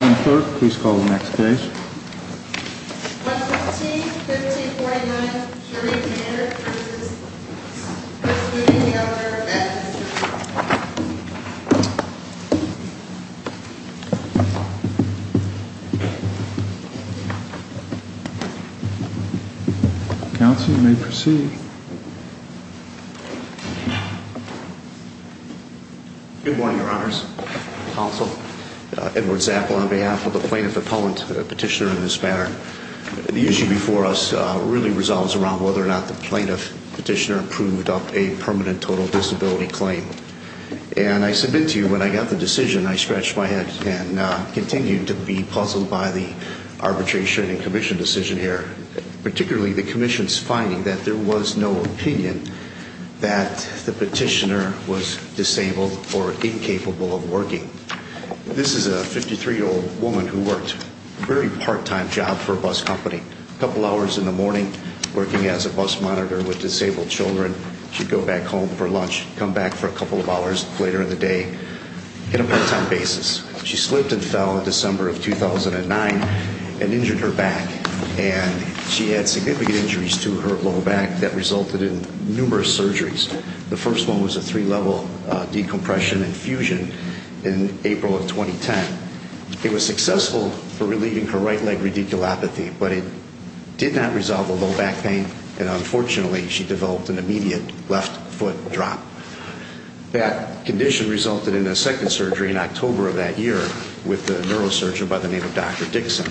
Third, please call the next case. 115-1549, Jury Commander Cruises, is meeting the owner of that district. Counsel, you may proceed. Good morning, Your Honors. Counsel, Edward Zappel on behalf of the Plaintiff Appellant Petitioner in this matter. The issue before us really resolves around whether or not the Plaintiff Petitioner approved of a permanent total disability claim. And I submit to you, when I got the decision, I scratched my head and continued to be puzzled by the arbitration and commission decision here. Particularly the commission's finding that there was no opinion that the petitioner was disabled or incapable of working. This is a 53-year-old woman who worked a very part-time job for a bus company. A couple hours in the morning, working as a bus monitor with disabled children. She'd go back home for lunch, come back for a couple of hours later in the day on a part-time basis. She slipped and fell in December of 2009 and injured her back. And she had significant injuries to her low back that resulted in numerous surgeries. The first one was a three-level decompression and fusion in April of 2010. It was successful for relieving her right leg radiculopathy, but it did not resolve the low back pain. And unfortunately, she developed an immediate left foot drop. That condition resulted in a second surgery in October of that year with a neurosurgeon by the name of Dr. Dixon.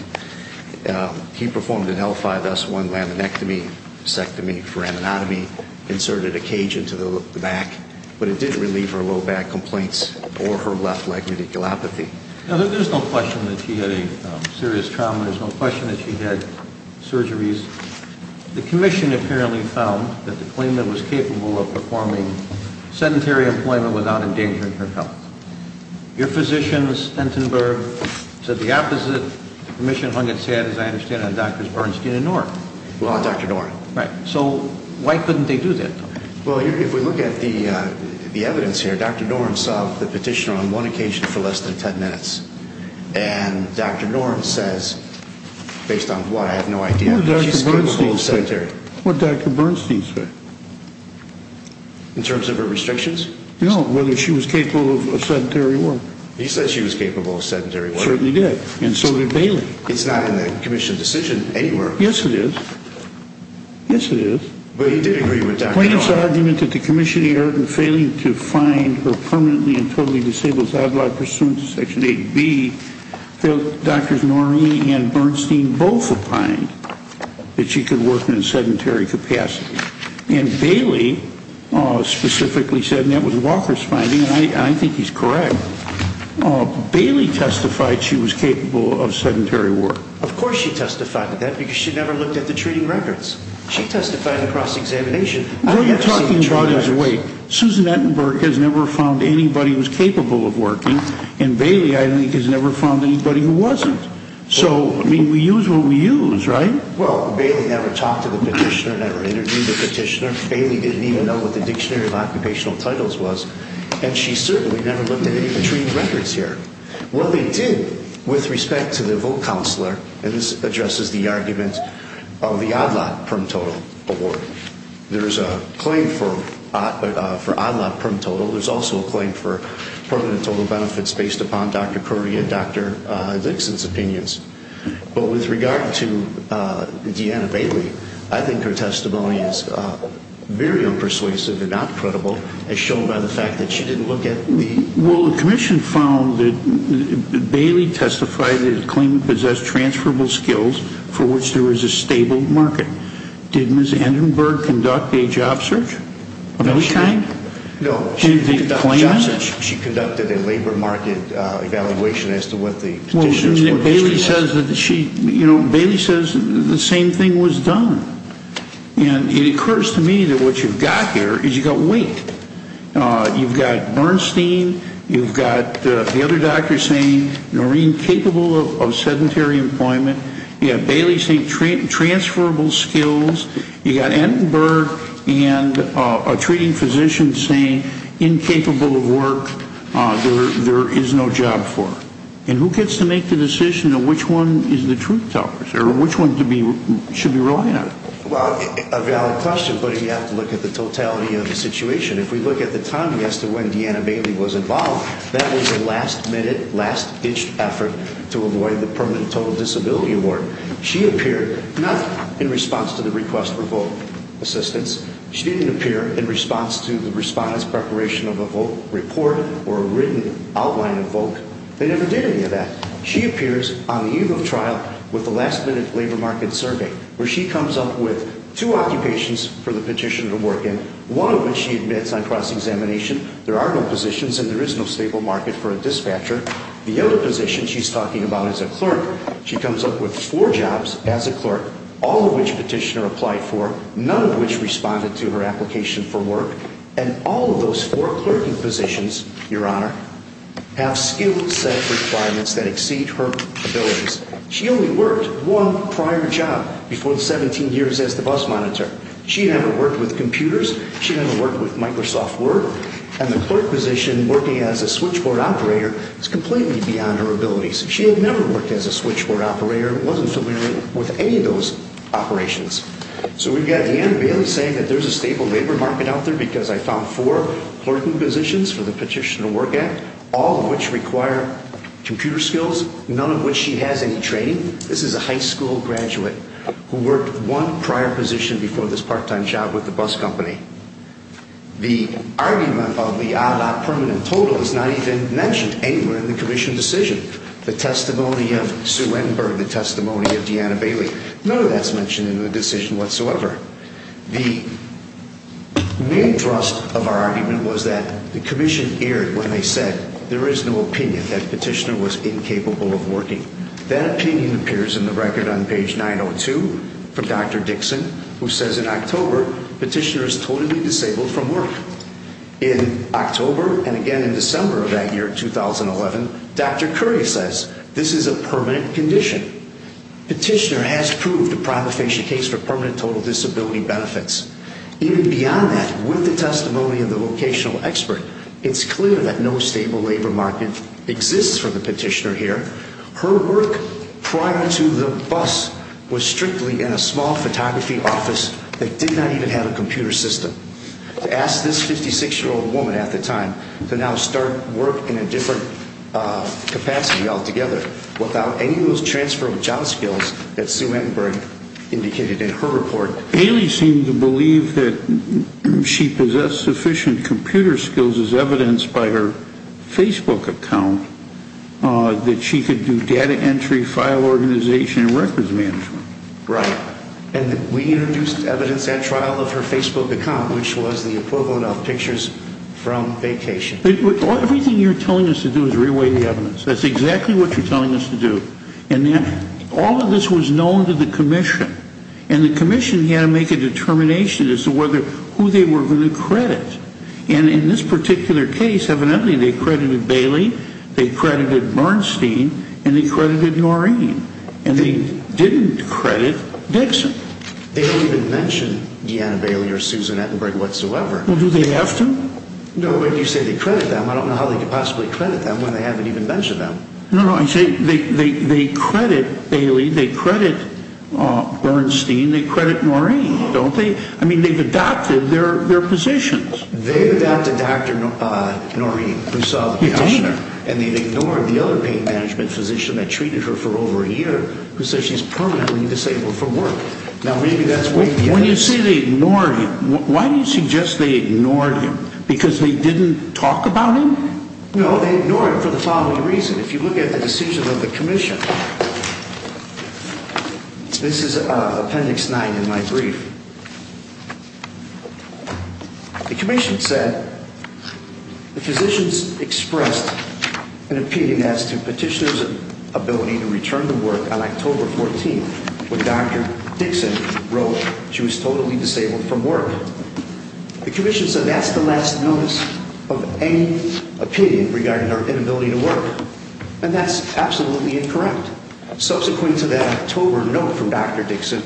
He performed an L5S1 laminectomy, a sectomy for an anatomy, inserted a cage into the back, but it didn't relieve her low back complaints or her left leg radiculopathy. There's no question that she had a serious trauma. There's no question that she had surgeries. The commission apparently found that the claimant was capable of performing sedentary employment without endangering her health. Your physician, Stentenberg, said the opposite. The commission hung its head, as I understand it, on Drs. Bernstein and Noren. Well, not Dr. Noren. Right. So why couldn't they do that? Well, if we look at the evidence here, Dr. Noren solved the petitioner on one occasion for less than 10 minutes. And Dr. Noren says, based on what, I have no idea. What did Dr. Bernstein say? She's capable of sedentary. What did Dr. Bernstein say? In terms of her restrictions? No, whether she was capable of sedentary work. He said she was capable of sedentary work. He certainly did. And so did Bailey. It's not in the commission's decision anywhere. Yes, it is. Yes, it is. But he did agree with Dr. Noren. He and Bernstein both opined that she could work in a sedentary capacity. And Bailey specifically said, and that was Walker's finding, and I think he's correct, Bailey testified she was capable of sedentary work. Of course she testified to that, because she never looked at the treating records. She testified in the cross-examination. What you're talking about is, wait, Susan Entenberg has never found anybody who's capable of working, and Bailey, I think, has never found anybody who wasn't. So, I mean, we use what we use, right? Well, Bailey never talked to the petitioner, never interviewed the petitioner. Bailey didn't even know what the Dictionary of Occupational Titles was, and she certainly never looked at any of the treating records here. What they did, with respect to the vote counselor, and this addresses the argument of the Odd Lot Prim Total Award, there is a claim for Odd Lot Prim Total. There's also a claim for Permanent Total Benefits based upon Dr. Currie and Dr. Dixon's opinions. But with regard to Deanna Bailey, I think her testimony is very unpersuasive and not credible, as shown by the fact that she didn't look at the- Well, the Commission found that Bailey testified that it claimed to possess transferable skills for which there was a stable market. Did Ms. Entenberg conduct a job search of any kind? No. She conducted a job search. She conducted a labor market evaluation as to what the petitioner said. Well, Bailey says the same thing was done. And it occurs to me that what you've got here is you've got weight. You've got Bernstein. You've got the other doctors saying Noreen capable of sedentary employment. You have Bailey saying transferable skills. You've got Entenberg and a treating physician saying incapable of work. There is no job for her. And who gets to make the decision of which one is the truth teller or which one should be relied on? Well, a valid question, but you have to look at the totality of the situation. If we look at the time as to when Deanna Bailey was involved, that was a last-minute, last-ditched effort to avoid the Permanent Total Disability Award. She appeared not in response to the request for vote assistance. She didn't appear in response to the response preparation of a vote report or a written outline of vote. They never did any of that. She appears on the eve of trial with a last-minute labor market survey where she comes up with two occupations for the petitioner to work in, one of which she admits on cross-examination. There are no positions and there is no stable market for a dispatcher. The other position she's talking about is a clerk. She comes up with four jobs as a clerk, all of which petitioner applied for, none of which responded to her application for work, and all of those four clerking positions, Your Honor, have skill-set requirements that exceed her abilities. She only worked one prior job before 17 years as the bus monitor. She never worked with computers. She never worked with Microsoft Word. And the clerk position, working as a switchboard operator, is completely beyond her abilities. She had never worked as a switchboard operator and wasn't familiar with any of those operations. So we've got Anne Bailey saying that there's a stable labor market out there because I found four clerking positions for the petitioner to work at, all of which require computer skills, none of which she has any training. This is a high school graduate who worked one prior position before this part-time job with the bus company. The argument about the odd-lot permanent total is not even mentioned anywhere in the commission decision. The testimony of Sue Enberg, the testimony of Deanna Bailey, none of that's mentioned in the decision whatsoever. The main thrust of our argument was that the commission erred when they said there is no opinion that the petitioner was incapable of working. That opinion appears in the record on page 902 from Dr. Dixon, who says in October, petitioner is totally disabled from work. In October, and again in December of that year, 2011, Dr. Currier says this is a permanent condition. Petitioner has proved a prima facie case for permanent total disability benefits. Even beyond that, with the testimony of the vocational expert, it's clear that no stable labor market exists for the petitioner here. Her work prior to the bus was strictly in a small photography office that did not even have a computer system. Ask this 56-year-old woman at the time to now start work in a different capacity altogether without any of those transfer of job skills that Sue Enberg indicated in her report. Bailey seemed to believe that she possessed sufficient computer skills as evidenced by her Facebook account that she could do data entry, file organization, and records management. Right. And we introduced evidence at trial of her Facebook account, which was the equivalent of pictures from vacation. Everything you're telling us to do is re-weigh the evidence. That's exactly what you're telling us to do. And all of this was known to the commission. And the commission had to make a determination as to who they were going to credit. And in this particular case, evidently they credited Bailey, they credited Bernstein, and they credited Noreen. And they didn't credit Dixon. They don't even mention Deanna Bailey or Susan Enberg whatsoever. Well, do they have to? No, but you say they credit them. I don't know how they could possibly credit them when they haven't even mentioned them. No, no, I say they credit Bailey, they credit Bernstein, they credit Noreen, don't they? I mean, they've adopted their positions. They've adopted Dr. Noreen, who saw the practitioner. And they've ignored the other pain management physician that treated her for over a year who says she's permanently disabled from work. Now, maybe that's way beyond this. When you say they ignored him, why do you suggest they ignored him? Because they didn't talk about him? No, they ignored him for the following reason. If you look at the decision of the commission, this is Appendix 9 in my brief. The commission said the physicians expressed an opinion as to petitioners' ability to return to work on October 14th when Dr. Dixon wrote she was totally disabled from work. The commission said that's the last notice of any opinion regarding her inability to work. And that's absolutely incorrect. Subsequent to that October note from Dr. Dixon,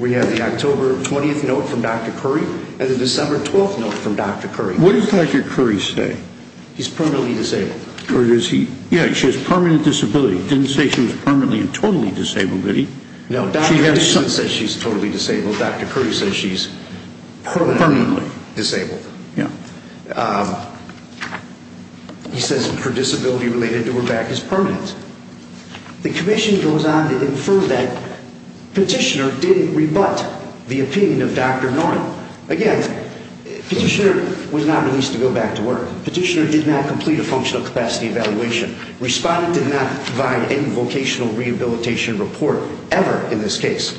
we have the October 20th note from Dr. Curry and the December 12th note from Dr. Curry. What did Dr. Curry say? He's permanently disabled. Yeah, she has permanent disability. He didn't say she was permanently and totally disabled, did he? No, Dr. Dixon says she's totally disabled. Dr. Curry says she's permanently disabled. He says her disability related to her back is permanent. The commission goes on to infer that petitioner didn't rebut the opinion of Dr. Noren. Again, petitioner was not released to go back to work. Petitioner did not complete a functional capacity evaluation. Respondent did not provide any vocational rehabilitation report ever in this case.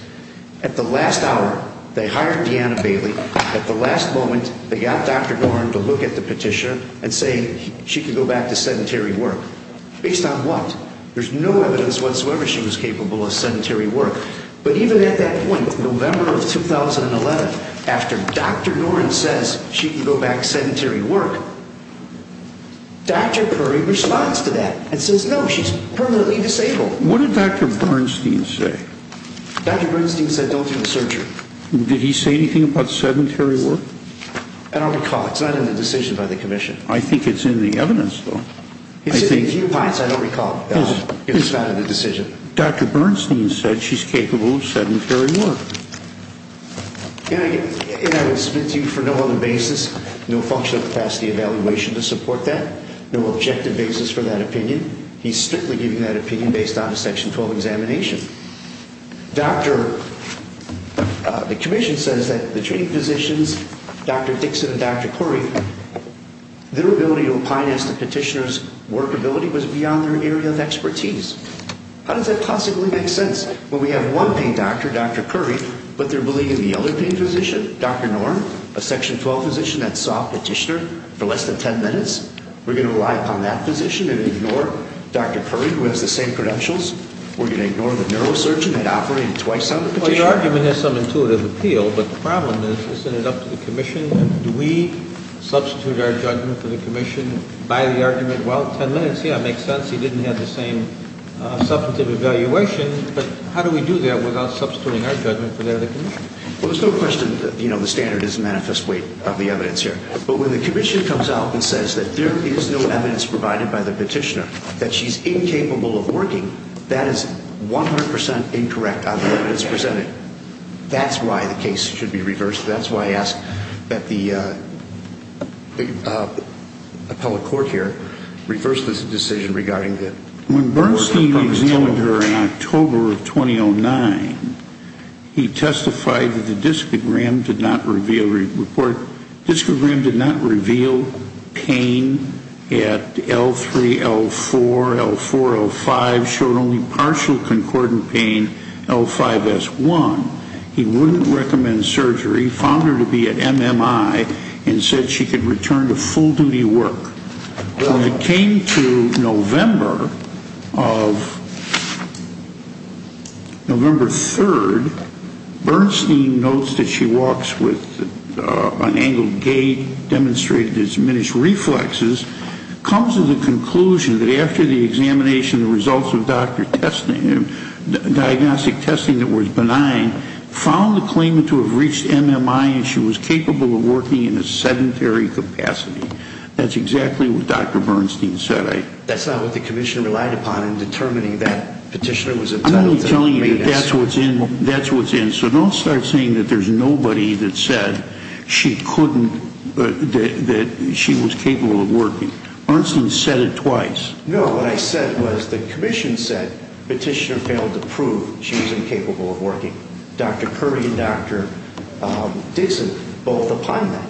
At the last hour, they hired Deanna Bailey. At the last moment, they got Dr. Noren to look at the petitioner and say she could go back to sedentary work. Based on what? There's no evidence whatsoever she was capable of sedentary work. But even at that point, November of 2011, after Dr. Noren says she can go back to sedentary work, Dr. Curry responds to that and says no, she's permanently disabled. What did Dr. Bernstein say? Dr. Bernstein said don't do the surgery. Did he say anything about sedentary work? I don't recall. It's not in the decision by the commission. I think it's in the evidence, though. I don't recall. It's not in the decision. Dr. Bernstein said she's capable of sedentary work. Again, I would submit to you for no other basis, no functional capacity evaluation to support that, no objective basis for that opinion. He's strictly giving that opinion based on a Section 12 examination. The commission says that the treating physicians, Dr. Dixon and Dr. Curry, their ability to opine as to petitioner's workability was beyond their area of expertise. How does that possibly make sense? When we have one pain doctor, Dr. Curry, but they're believing the other pain physician, Dr. Noren, a Section 12 physician that saw a petitioner for less than 10 minutes, we're going to rely upon that physician and ignore Dr. Curry, who has the same credentials? We're going to ignore the neurosurgeon that operated twice on the petitioner? Well, your argument has some intuitive appeal, but the problem is isn't it up to the commission? Do we substitute our judgment for the commission by the argument? Well, 10 minutes, yeah, it makes sense. He didn't have the same substantive evaluation, but how do we do that without substituting our judgment for the other commission? Well, there's no question that the standard is a manifest weight of the evidence here. But when the commission comes out and says that there is no evidence provided by the petitioner, that she's incapable of working, that is 100 percent incorrect on the evidence presented. That's why the case should be reversed. That's why I ask that the appellate court here reverse this decision regarding the work of the petitioner. When Bernstein examined her in October of 2009, he testified that the discogram did not reveal pain at L3, L4, L4, L5, showed only partial concordant pain, L5, S1. He wouldn't recommend surgery, found her to be at MMI, and said she could return to full-duty work. When it came to November 3rd, Bernstein notes that she walks with an angled gait, demonstrated diminished reflexes, comes to the conclusion that after the examination, the results of diagnostic testing that were benign, found the claimant to have reached MMI and she was capable of working in a sedentary capacity. That's exactly what Dr. Bernstein said. That's not what the commission relied upon in determining that petitioner was entitled to make an assessment. I'm only telling you that that's what's in. So don't start saying that there's nobody that said she couldn't, that she was capable of working. Bernstein said it twice. No, what I said was the commission said petitioner failed to prove she was incapable of working. Dr. Curry and Dr. Dixon both opined that.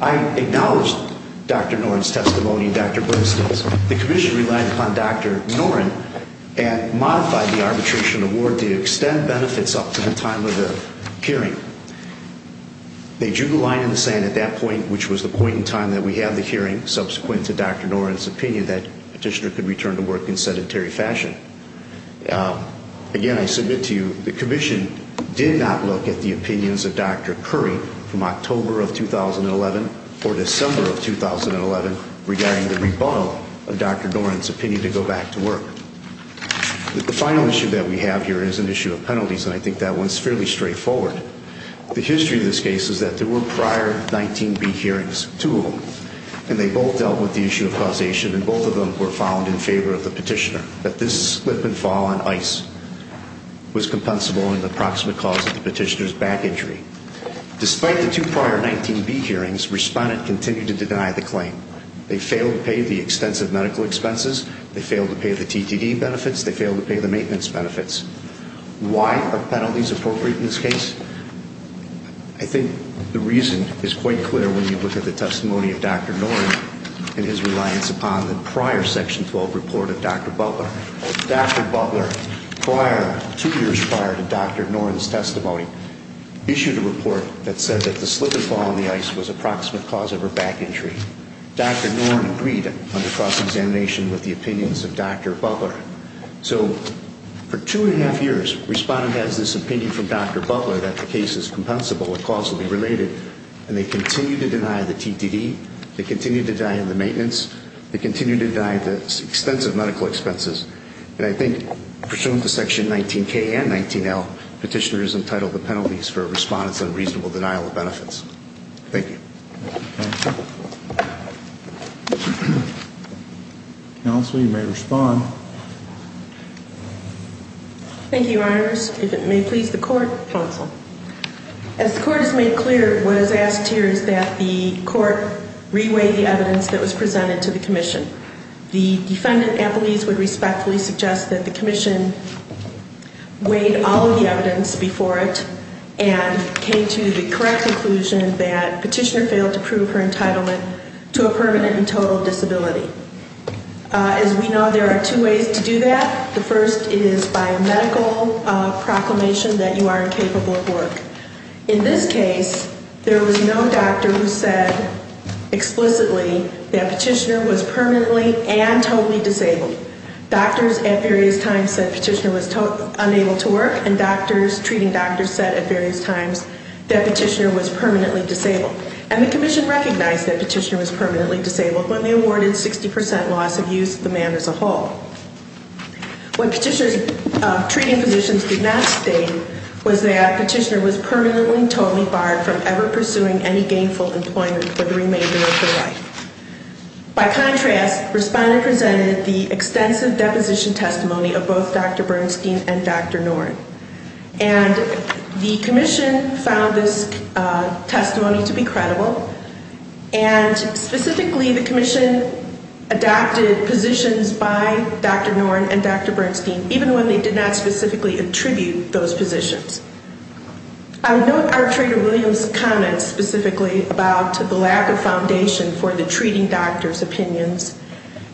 I acknowledged Dr. Noren's testimony and Dr. Bernstein's. The commission relied upon Dr. Noren and modified the arbitration award to extend benefits up to the time of the hearing. They drew the line in the sand at that point, which was the point in time that we had the hearing, subsequent to Dr. Noren's opinion that petitioner could return to work in sedentary fashion. Again, I submit to you the commission did not look at the opinions of Dr. Curry from October of 2011 or December of 2011 regarding the rebuttal of Dr. Noren's opinion to go back to work. The final issue that we have here is an issue of penalties, and I think that one's fairly straightforward. The history of this case is that there were prior 19B hearings, two of them, and they both dealt with the issue of causation, and both of them were found in favor of the petitioner, that this slip and fall on ice was compensable in the proximate cause of the petitioner's back injury. Despite the two prior 19B hearings, respondents continued to deny the claim. They failed to pay the extensive medical expenses. They failed to pay the TTD benefits. They failed to pay the maintenance benefits. Why are penalties appropriate in this case? I think the reason is quite clear when you look at the testimony of Dr. Noren and his reliance upon the prior Section 12 report of Dr. Butler. Dr. Butler, two years prior to Dr. Noren's testimony, issued a report that said that the slip and fall on the ice was a proximate cause of her back injury. Dr. Noren agreed on the cross-examination with the opinions of Dr. Butler. So, for two and a half years, respondents had this opinion from Dr. Butler that the case is compensable and causally related, and they continued to deny the TTD. They continued to deny the maintenance. They continued to deny the extensive medical expenses, and I think pursuant to Section 19K and 19L, petitioners entitled the penalties for respondents' unreasonable denial of benefits. Thank you. Thank you, Counsel. Counsel, you may respond. Thank you, Your Honors. If it may please the Court. Counsel. As the Court has made clear, what is asked here is that the Court re-weigh the evidence that was presented to the Commission. The defendant, Applebee's, would respectfully suggest that the Commission weighed all of the evidence before it and came to the correct conclusion that petitioner failed to prove her entitlement to a permanent and total disability. As we know, there are two ways to do that. The first is by a medical proclamation that you are incapable of work. In this case, there was no doctor who said explicitly that petitioner was permanently and totally disabled. Doctors at various times said petitioner was unable to work, and treating doctors said at various times that petitioner was permanently disabled. And the Commission recognized that petitioner was permanently disabled when they awarded 60% loss of use of the man as a whole. What treating physicians did not state was that petitioner was permanently and totally barred from ever pursuing any gainful employment for the remainder of her life. By contrast, Respondent presented the extensive deposition testimony of both Dr. Bernstein and Dr. Noren. And the Commission found this testimony to be credible, and specifically the Commission adopted positions by Dr. Noren and Dr. Bernstein, even when they did not specifically attribute those positions. I would note Archrator Williams' comments specifically about the lack of foundation for the treating doctor's opinions,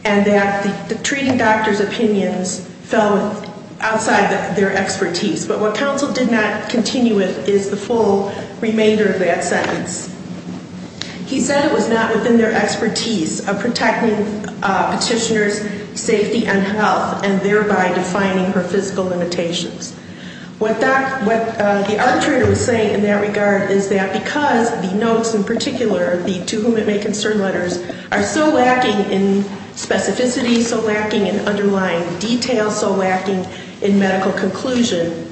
and that the treating doctor's opinions fell outside their expertise. But what counsel did not continue with is the full remainder of that sentence. He said it was not within their expertise of protecting petitioner's safety and health, and thereby defining her physical limitations. What the Archrator was saying in that regard is that because the notes in particular, the To Whom It May Concern letters, are so lacking in specificity, so lacking in underlying detail, so lacking in medical conclusion,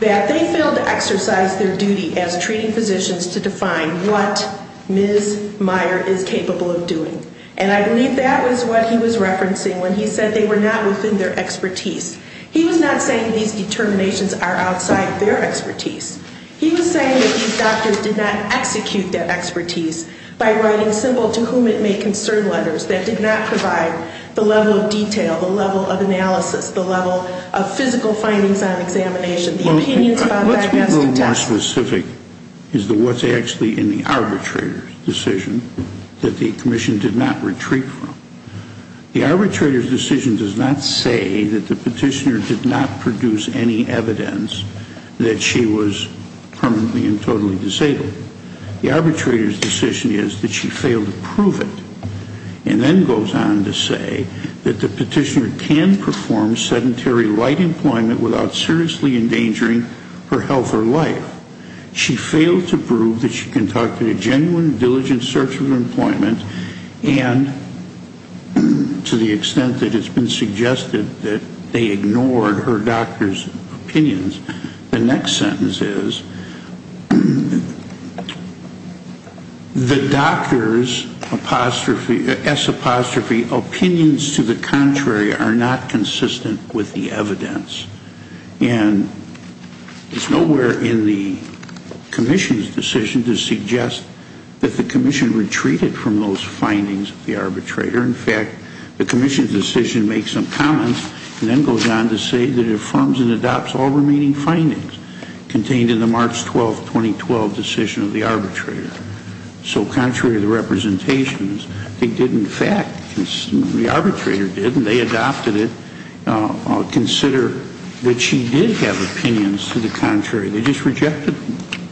that they failed to exercise their duty as treating physicians to define what Ms. Meyer is capable of doing. And I believe that was what he was referencing when he said they were not within their expertise. He was not saying these determinations are outside their expertise. He was saying that these doctors did not execute that expertise by writing simple To Whom It May Concern letters that did not provide the level of detail, the level of analysis, the level of physical findings on examination, the opinions about diagnostic tests. Let's be a little more specific as to what's actually in the arbitrator's decision that the Commission did not retreat from. The arbitrator's decision does not say that the petitioner did not produce any evidence that she was permanently and totally disabled. The arbitrator's decision is that she failed to prove it, and then goes on to say that the petitioner can perform sedentary light employment without seriously endangering her health or life. She failed to prove that she conducted a genuine, diligent search of employment, and to the extent that it's been suggested that they ignored her doctor's opinions. The next sentence is, the doctor's apostrophe, S apostrophe, opinions to the contrary are not consistent with the evidence. And it's nowhere in the Commission's decision to suggest that the Commission retreated from those findings of the arbitrator. In fact, the Commission's decision makes some comments and then goes on to say that it affirms and adopts all remaining findings contained in the March 12, 2012 decision of the arbitrator. So contrary to the representations, it did in fact, the arbitrator did, and they adopted it, consider that she did have opinions to the contrary. They just rejected them.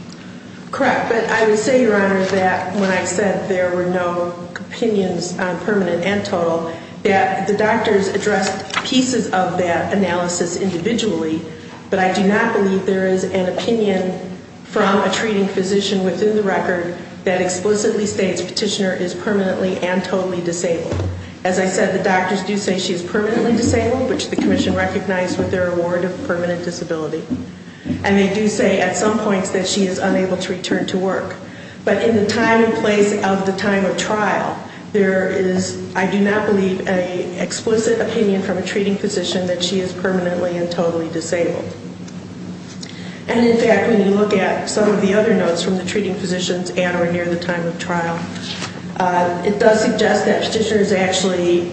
Correct. But I would say, Your Honor, that when I said there were no opinions on permanent and total, that the doctors addressed pieces of that analysis individually, but I do not believe there is an opinion from a treating physician within the record that explicitly states the petitioner is permanently and totally disabled. As I said, the doctors do say she is permanently disabled, which the Commission recognized with their award of permanent disability. And they do say at some points that she is unable to return to work. But in the time and place of the time of trial, there is, I do not believe, an explicit opinion from a treating physician that she is permanently and totally disabled. And in fact, when you look at some of the other notes from the treating physicians at or near the time of trial, it does suggest that the petitioner is actually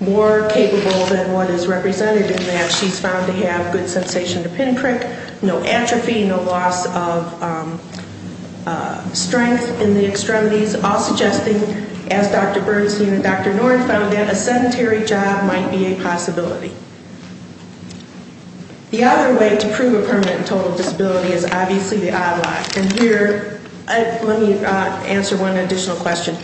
more capable than what is represented in that she is found to have good sensation to pinprick, no atrophy, no loss of strength in the extremities, all suggesting, as Dr. Bernstein and Dr. Norton found, that a sedentary job might be a possibility. The other way to prove a permanent and total disability is obviously the eye lock. And here, let me answer one additional question.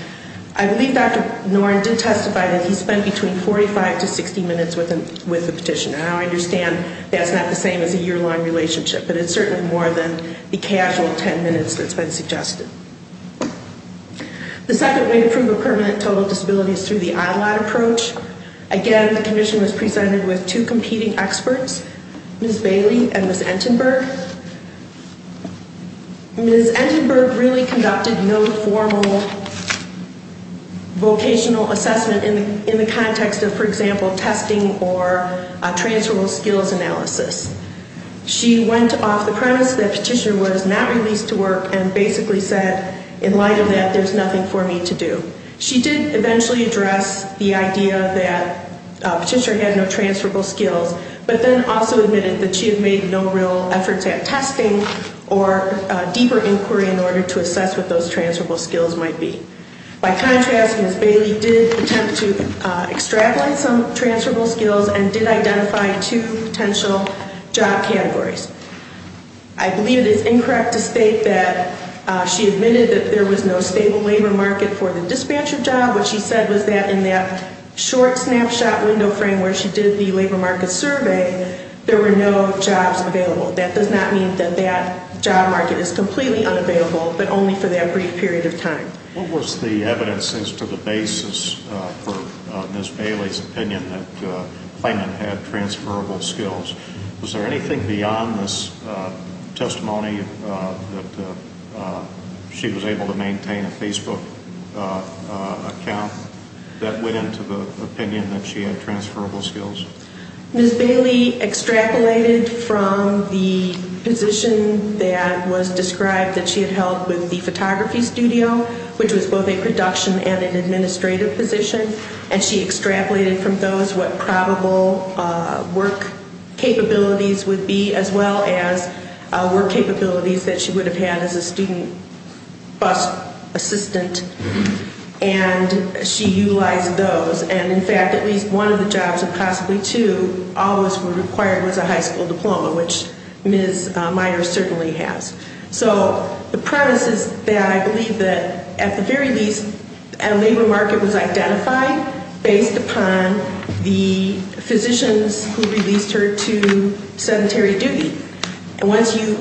I believe Dr. Norton did testify that he spent between 45 to 60 minutes with the petitioner. And I understand that's not the same as a year-long relationship, but it's certainly more than the casual 10 minutes that's been suggested. The second way to prove a permanent and total disability is through the eye lock approach. Again, the Commission was presented with two competing experts, Ms. Bailey and Ms. Entenberg. Ms. Entenberg really conducted no formal vocational assessment in the context of, for example, testing or transferable skills analysis. She went off the premise that the petitioner was not released to work and basically said, in light of that, there's nothing for me to do. She did eventually address the idea that the petitioner had no transferable skills, but then also admitted that she had made no real efforts at testing or deeper inquiry in order to assess what those transferable skills might be. By contrast, Ms. Bailey did attempt to extrapolate some transferable skills and did identify two potential job categories. I believe it is incorrect to state that she admitted that there was no stable labor market for the dispatcher job. What she said was that in that short snapshot window frame where she did the labor market survey, there were no jobs available. That does not mean that that job market is completely unavailable, but only for that brief period of time. What was the evidence as to the basis for Ms. Bailey's opinion that Clayman had transferable skills? Was there anything beyond this testimony that she was able to maintain a Facebook account that went into the opinion that she had transferable skills? Ms. Bailey extrapolated from the position that was described that she had held with the photography studio, which was both a production and an administrative position, and she extrapolated from those what probable work capabilities would be as well as work capabilities that she would have had as a student bus assistant, and she utilized those. In fact, at least one of the jobs, and possibly two, always were required was a high school diploma, which Ms. Myers certainly has. So the premise is that I believe that at the very least a labor market was identified based upon the physicians who released her to sedentary duty. And once you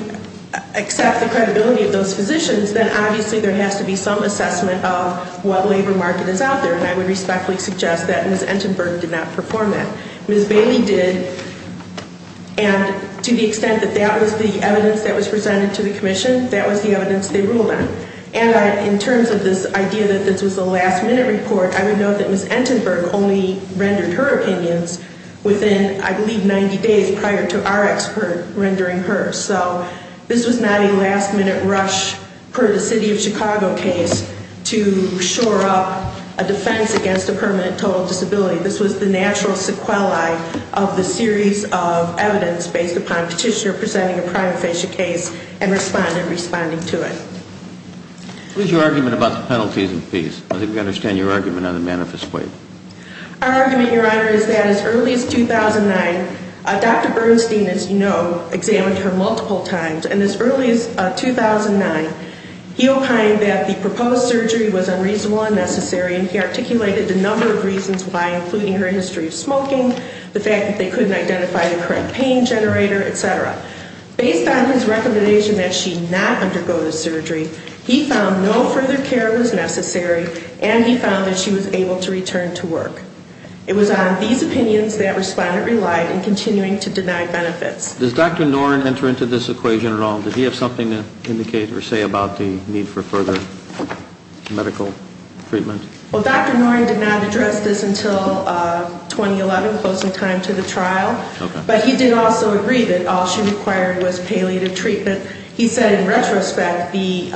accept the credibility of those physicians, then obviously there has to be some assessment of what labor market is out there, and I would respectfully suggest that Ms. Entenberg did not perform that. Ms. Bailey did, and to the extent that that was the evidence that was presented to the commission, that was the evidence they ruled on. And in terms of this idea that this was a last-minute report, I would note that Ms. Entenberg only rendered her opinions within, I believe, 90 days prior to our expert rendering hers. So this was not a last-minute rush per the City of Chicago case to shore up a defense against a permanent total disability. This was the natural sequelae of the series of evidence based upon petitioner presenting a prima facie case and responding to it. What is your argument about the penalties and fees? I think we understand your argument on the manifest way. Our argument, Your Honor, is that as early as 2009, Dr. Bernstein, as you know, examined her multiple times. And as early as 2009, he opined that the proposed surgery was unreasonable and necessary, and he articulated a number of reasons why, including her history of smoking, the fact that they couldn't identify the correct pain generator, et cetera. Based on his recommendation that she not undergo the surgery, he found no further care was necessary, and he found that she was able to return to work. It was on these opinions that Respondent relied in continuing to deny benefits. Does Dr. Noren enter into this equation at all? Did he have something to indicate or say about the need for further medical treatment? Well, Dr. Noren did not address this until 2011, close in time to the trial. But he did also agree that all she required was palliative treatment. He said in retrospect the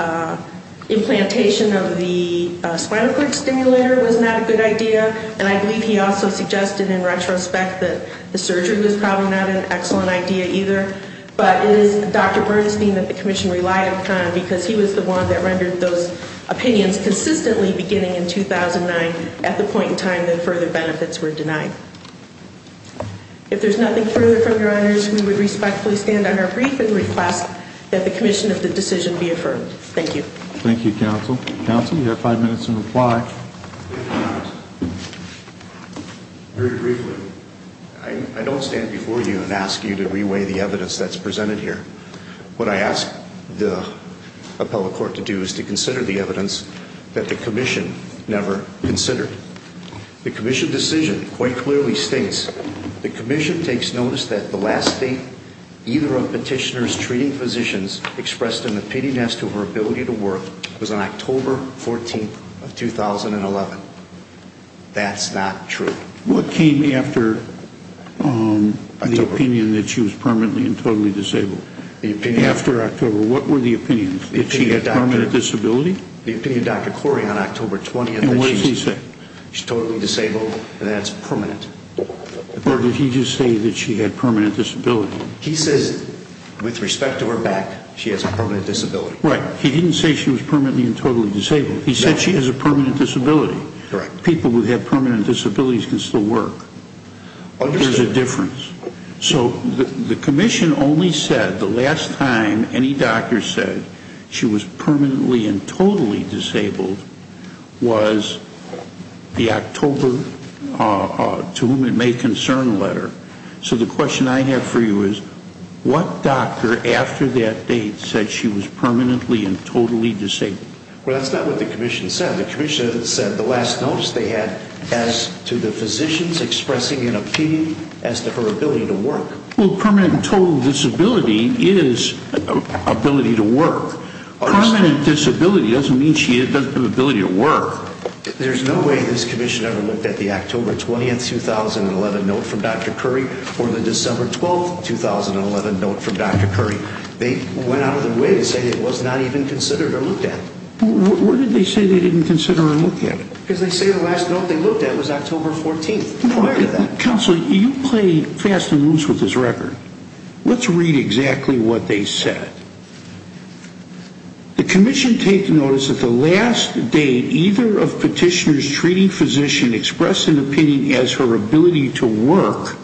implantation of the spinal cord stimulator was not a good idea, and I believe he also suggested in retrospect that the surgery was probably not an excellent idea either. But it is Dr. Bernstein that the commission relied upon, because he was the one that rendered those opinions consistently beginning in 2009 at the point in time that further benefits were denied. If there's nothing further from your honors, we would respectfully stand on our brief and request that the commission of the decision be affirmed. Thank you. Thank you, counsel. Counsel, you have five minutes in reply. Very briefly, I don't stand before you and ask you to reweigh the evidence that's presented here. What I ask the appellate court to do is to consider the evidence that the commission never considered. The commission decision quite clearly states, the commission takes notice that the last state either of petitioner's treating physicians expressed an opinion as to her ability to work was on October 14th of 2011. That's not true. What came after the opinion that she was permanently and totally disabled? After October, what were the opinions? That she had permanent disability? The opinion of Dr. Corey on October 20th. And what did he say? She's totally disabled and that's permanent. Or did he just say that she had permanent disability? He says with respect to her back, she has a permanent disability. Right. He didn't say she was permanently and totally disabled. He said she has a permanent disability. Correct. People who have permanent disabilities can still work. Understood. There's a difference. So the commission only said the last time any doctor said she was permanently and totally disabled was the October to whom it made concern letter. So the question I have for you is what doctor after that date said she was permanently and totally disabled? Well, that's not what the commission said. The commission said the last notice they had as to the physicians expressing an opinion as to her ability to work. Well, permanent and total disability is ability to work. Permanent disability doesn't mean she doesn't have the ability to work. There's no way this commission ever looked at the October 20, 2011 note from Dr. Curry or the December 12, 2011 note from Dr. Curry. They went out of their way to say it was not even considered or looked at. Well, where did they say they didn't consider or look at it? Because they say the last note they looked at was October 14 prior to that. Counsel, you play fast and loose with this record. Let's read exactly what they said. The commission take notice that the last date either of petitioners treating physician expressed an opinion as her ability to work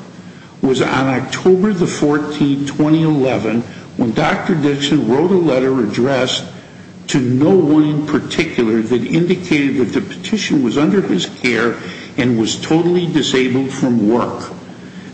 was on October 14, 2011 when Dr. Dixon wrote a letter addressed to no one in particular that indicated that the petition was under his care and was totally disabled from work.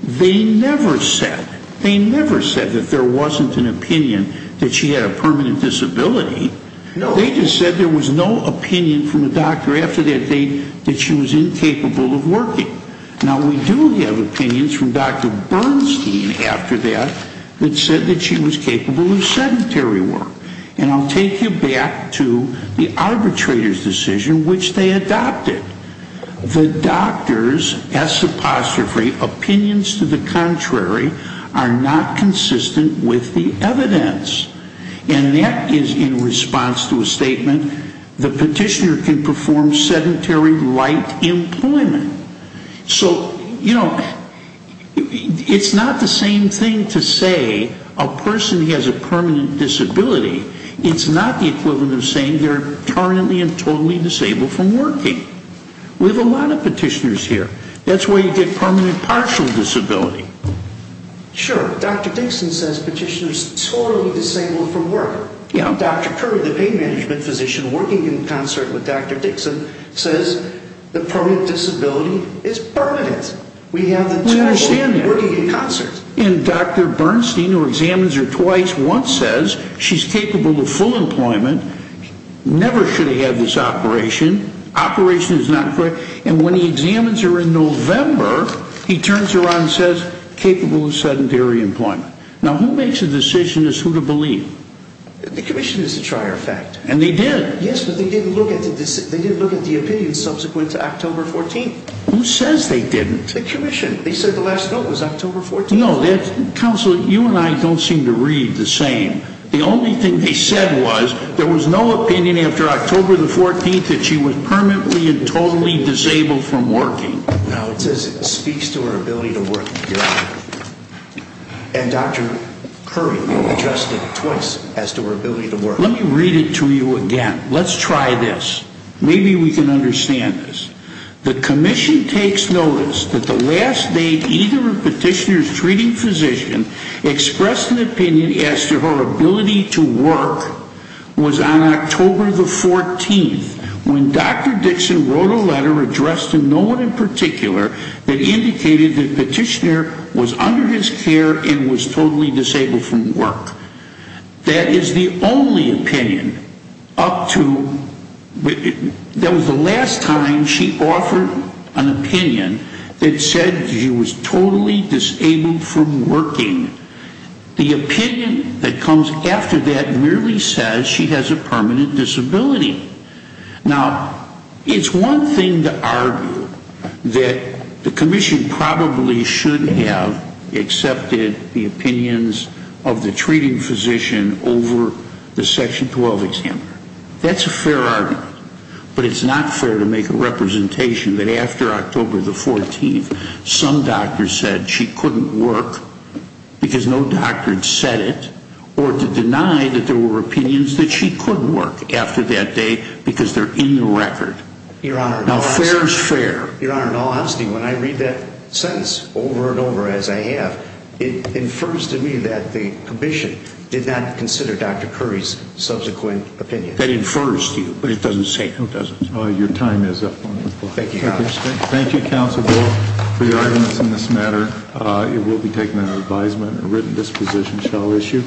They never said, they never said that there wasn't an opinion that she had a permanent disability. They just said there was no opinion from the doctor after that date that she was incapable of working. Now, we do have opinions from Dr. Bernstein after that that said that she was capable of sedentary work. And I'll take you back to the arbitrator's decision which they adopted. The doctor's, S apostrophe, opinions to the contrary are not consistent with the evidence. And that is in response to a statement, the petitioner can perform sedentary light employment. So, you know, it's not the same thing to say a person has a permanent disability. It's not the equivalent of saying they're permanently and totally disabled from working. We have a lot of petitioners here. That's why you get permanent partial disability. Sure, Dr. Dixon says petitioner's totally disabled from work. Dr. Curry, the pain management physician working in concert with Dr. Dixon says the permanent disability is permanent. We have the two working in concert. And Dr. Bernstein, who examines her twice, once says she's capable of full employment. Never should have had this operation. Operation is not correct. And when he examines her in November, he turns her around and says capable of sedentary employment. Now, who makes a decision as to who to believe? The commission is to try her effect. And they did. Yes, but they didn't look at the opinion subsequent to October 14th. Who says they didn't? The commission. They said the last note was October 14th. Counsel, you and I don't seem to read the same. The only thing they said was there was no opinion after October 14th that she was permanently and totally disabled from working. No, it says it speaks to her ability to work. And Dr. Curry addressed it twice as to her ability to work. Let me read it to you again. Let's try this. Maybe we can understand this. The commission takes notice that the last date either petitioner's treating physician expressed an opinion as to her ability to work was on October 14th, when Dr. Dixon wrote a letter addressed to no one in particular that indicated the petitioner was under his care and was totally disabled from work. That is the only opinion up to, that was the last time she offered an opinion that said she was totally disabled from working. The opinion that comes after that merely says she has a permanent disability. Now, it's one thing to argue that the commission probably should have accepted the opinions of the treating physician over the Section 12 examiner. That's a fair argument. But it's not fair to make a representation that after October 14th, some doctor said she couldn't work because no doctor had said it, or to deny that there were opinions that she could work after that day because they're in the record. Now, fair is fair. Your Honor, in all honesty, when I read that sentence over and over as I have, it infers to me that the commission did not consider Dr. Curry's subsequent opinion. That infers to you, but it doesn't say who doesn't. Your time is up, Your Honor. Thank you, Your Honor. Thank you, Counsel Bull, for your arguments in this matter. It will be taken under advisement and written disposition shall issue.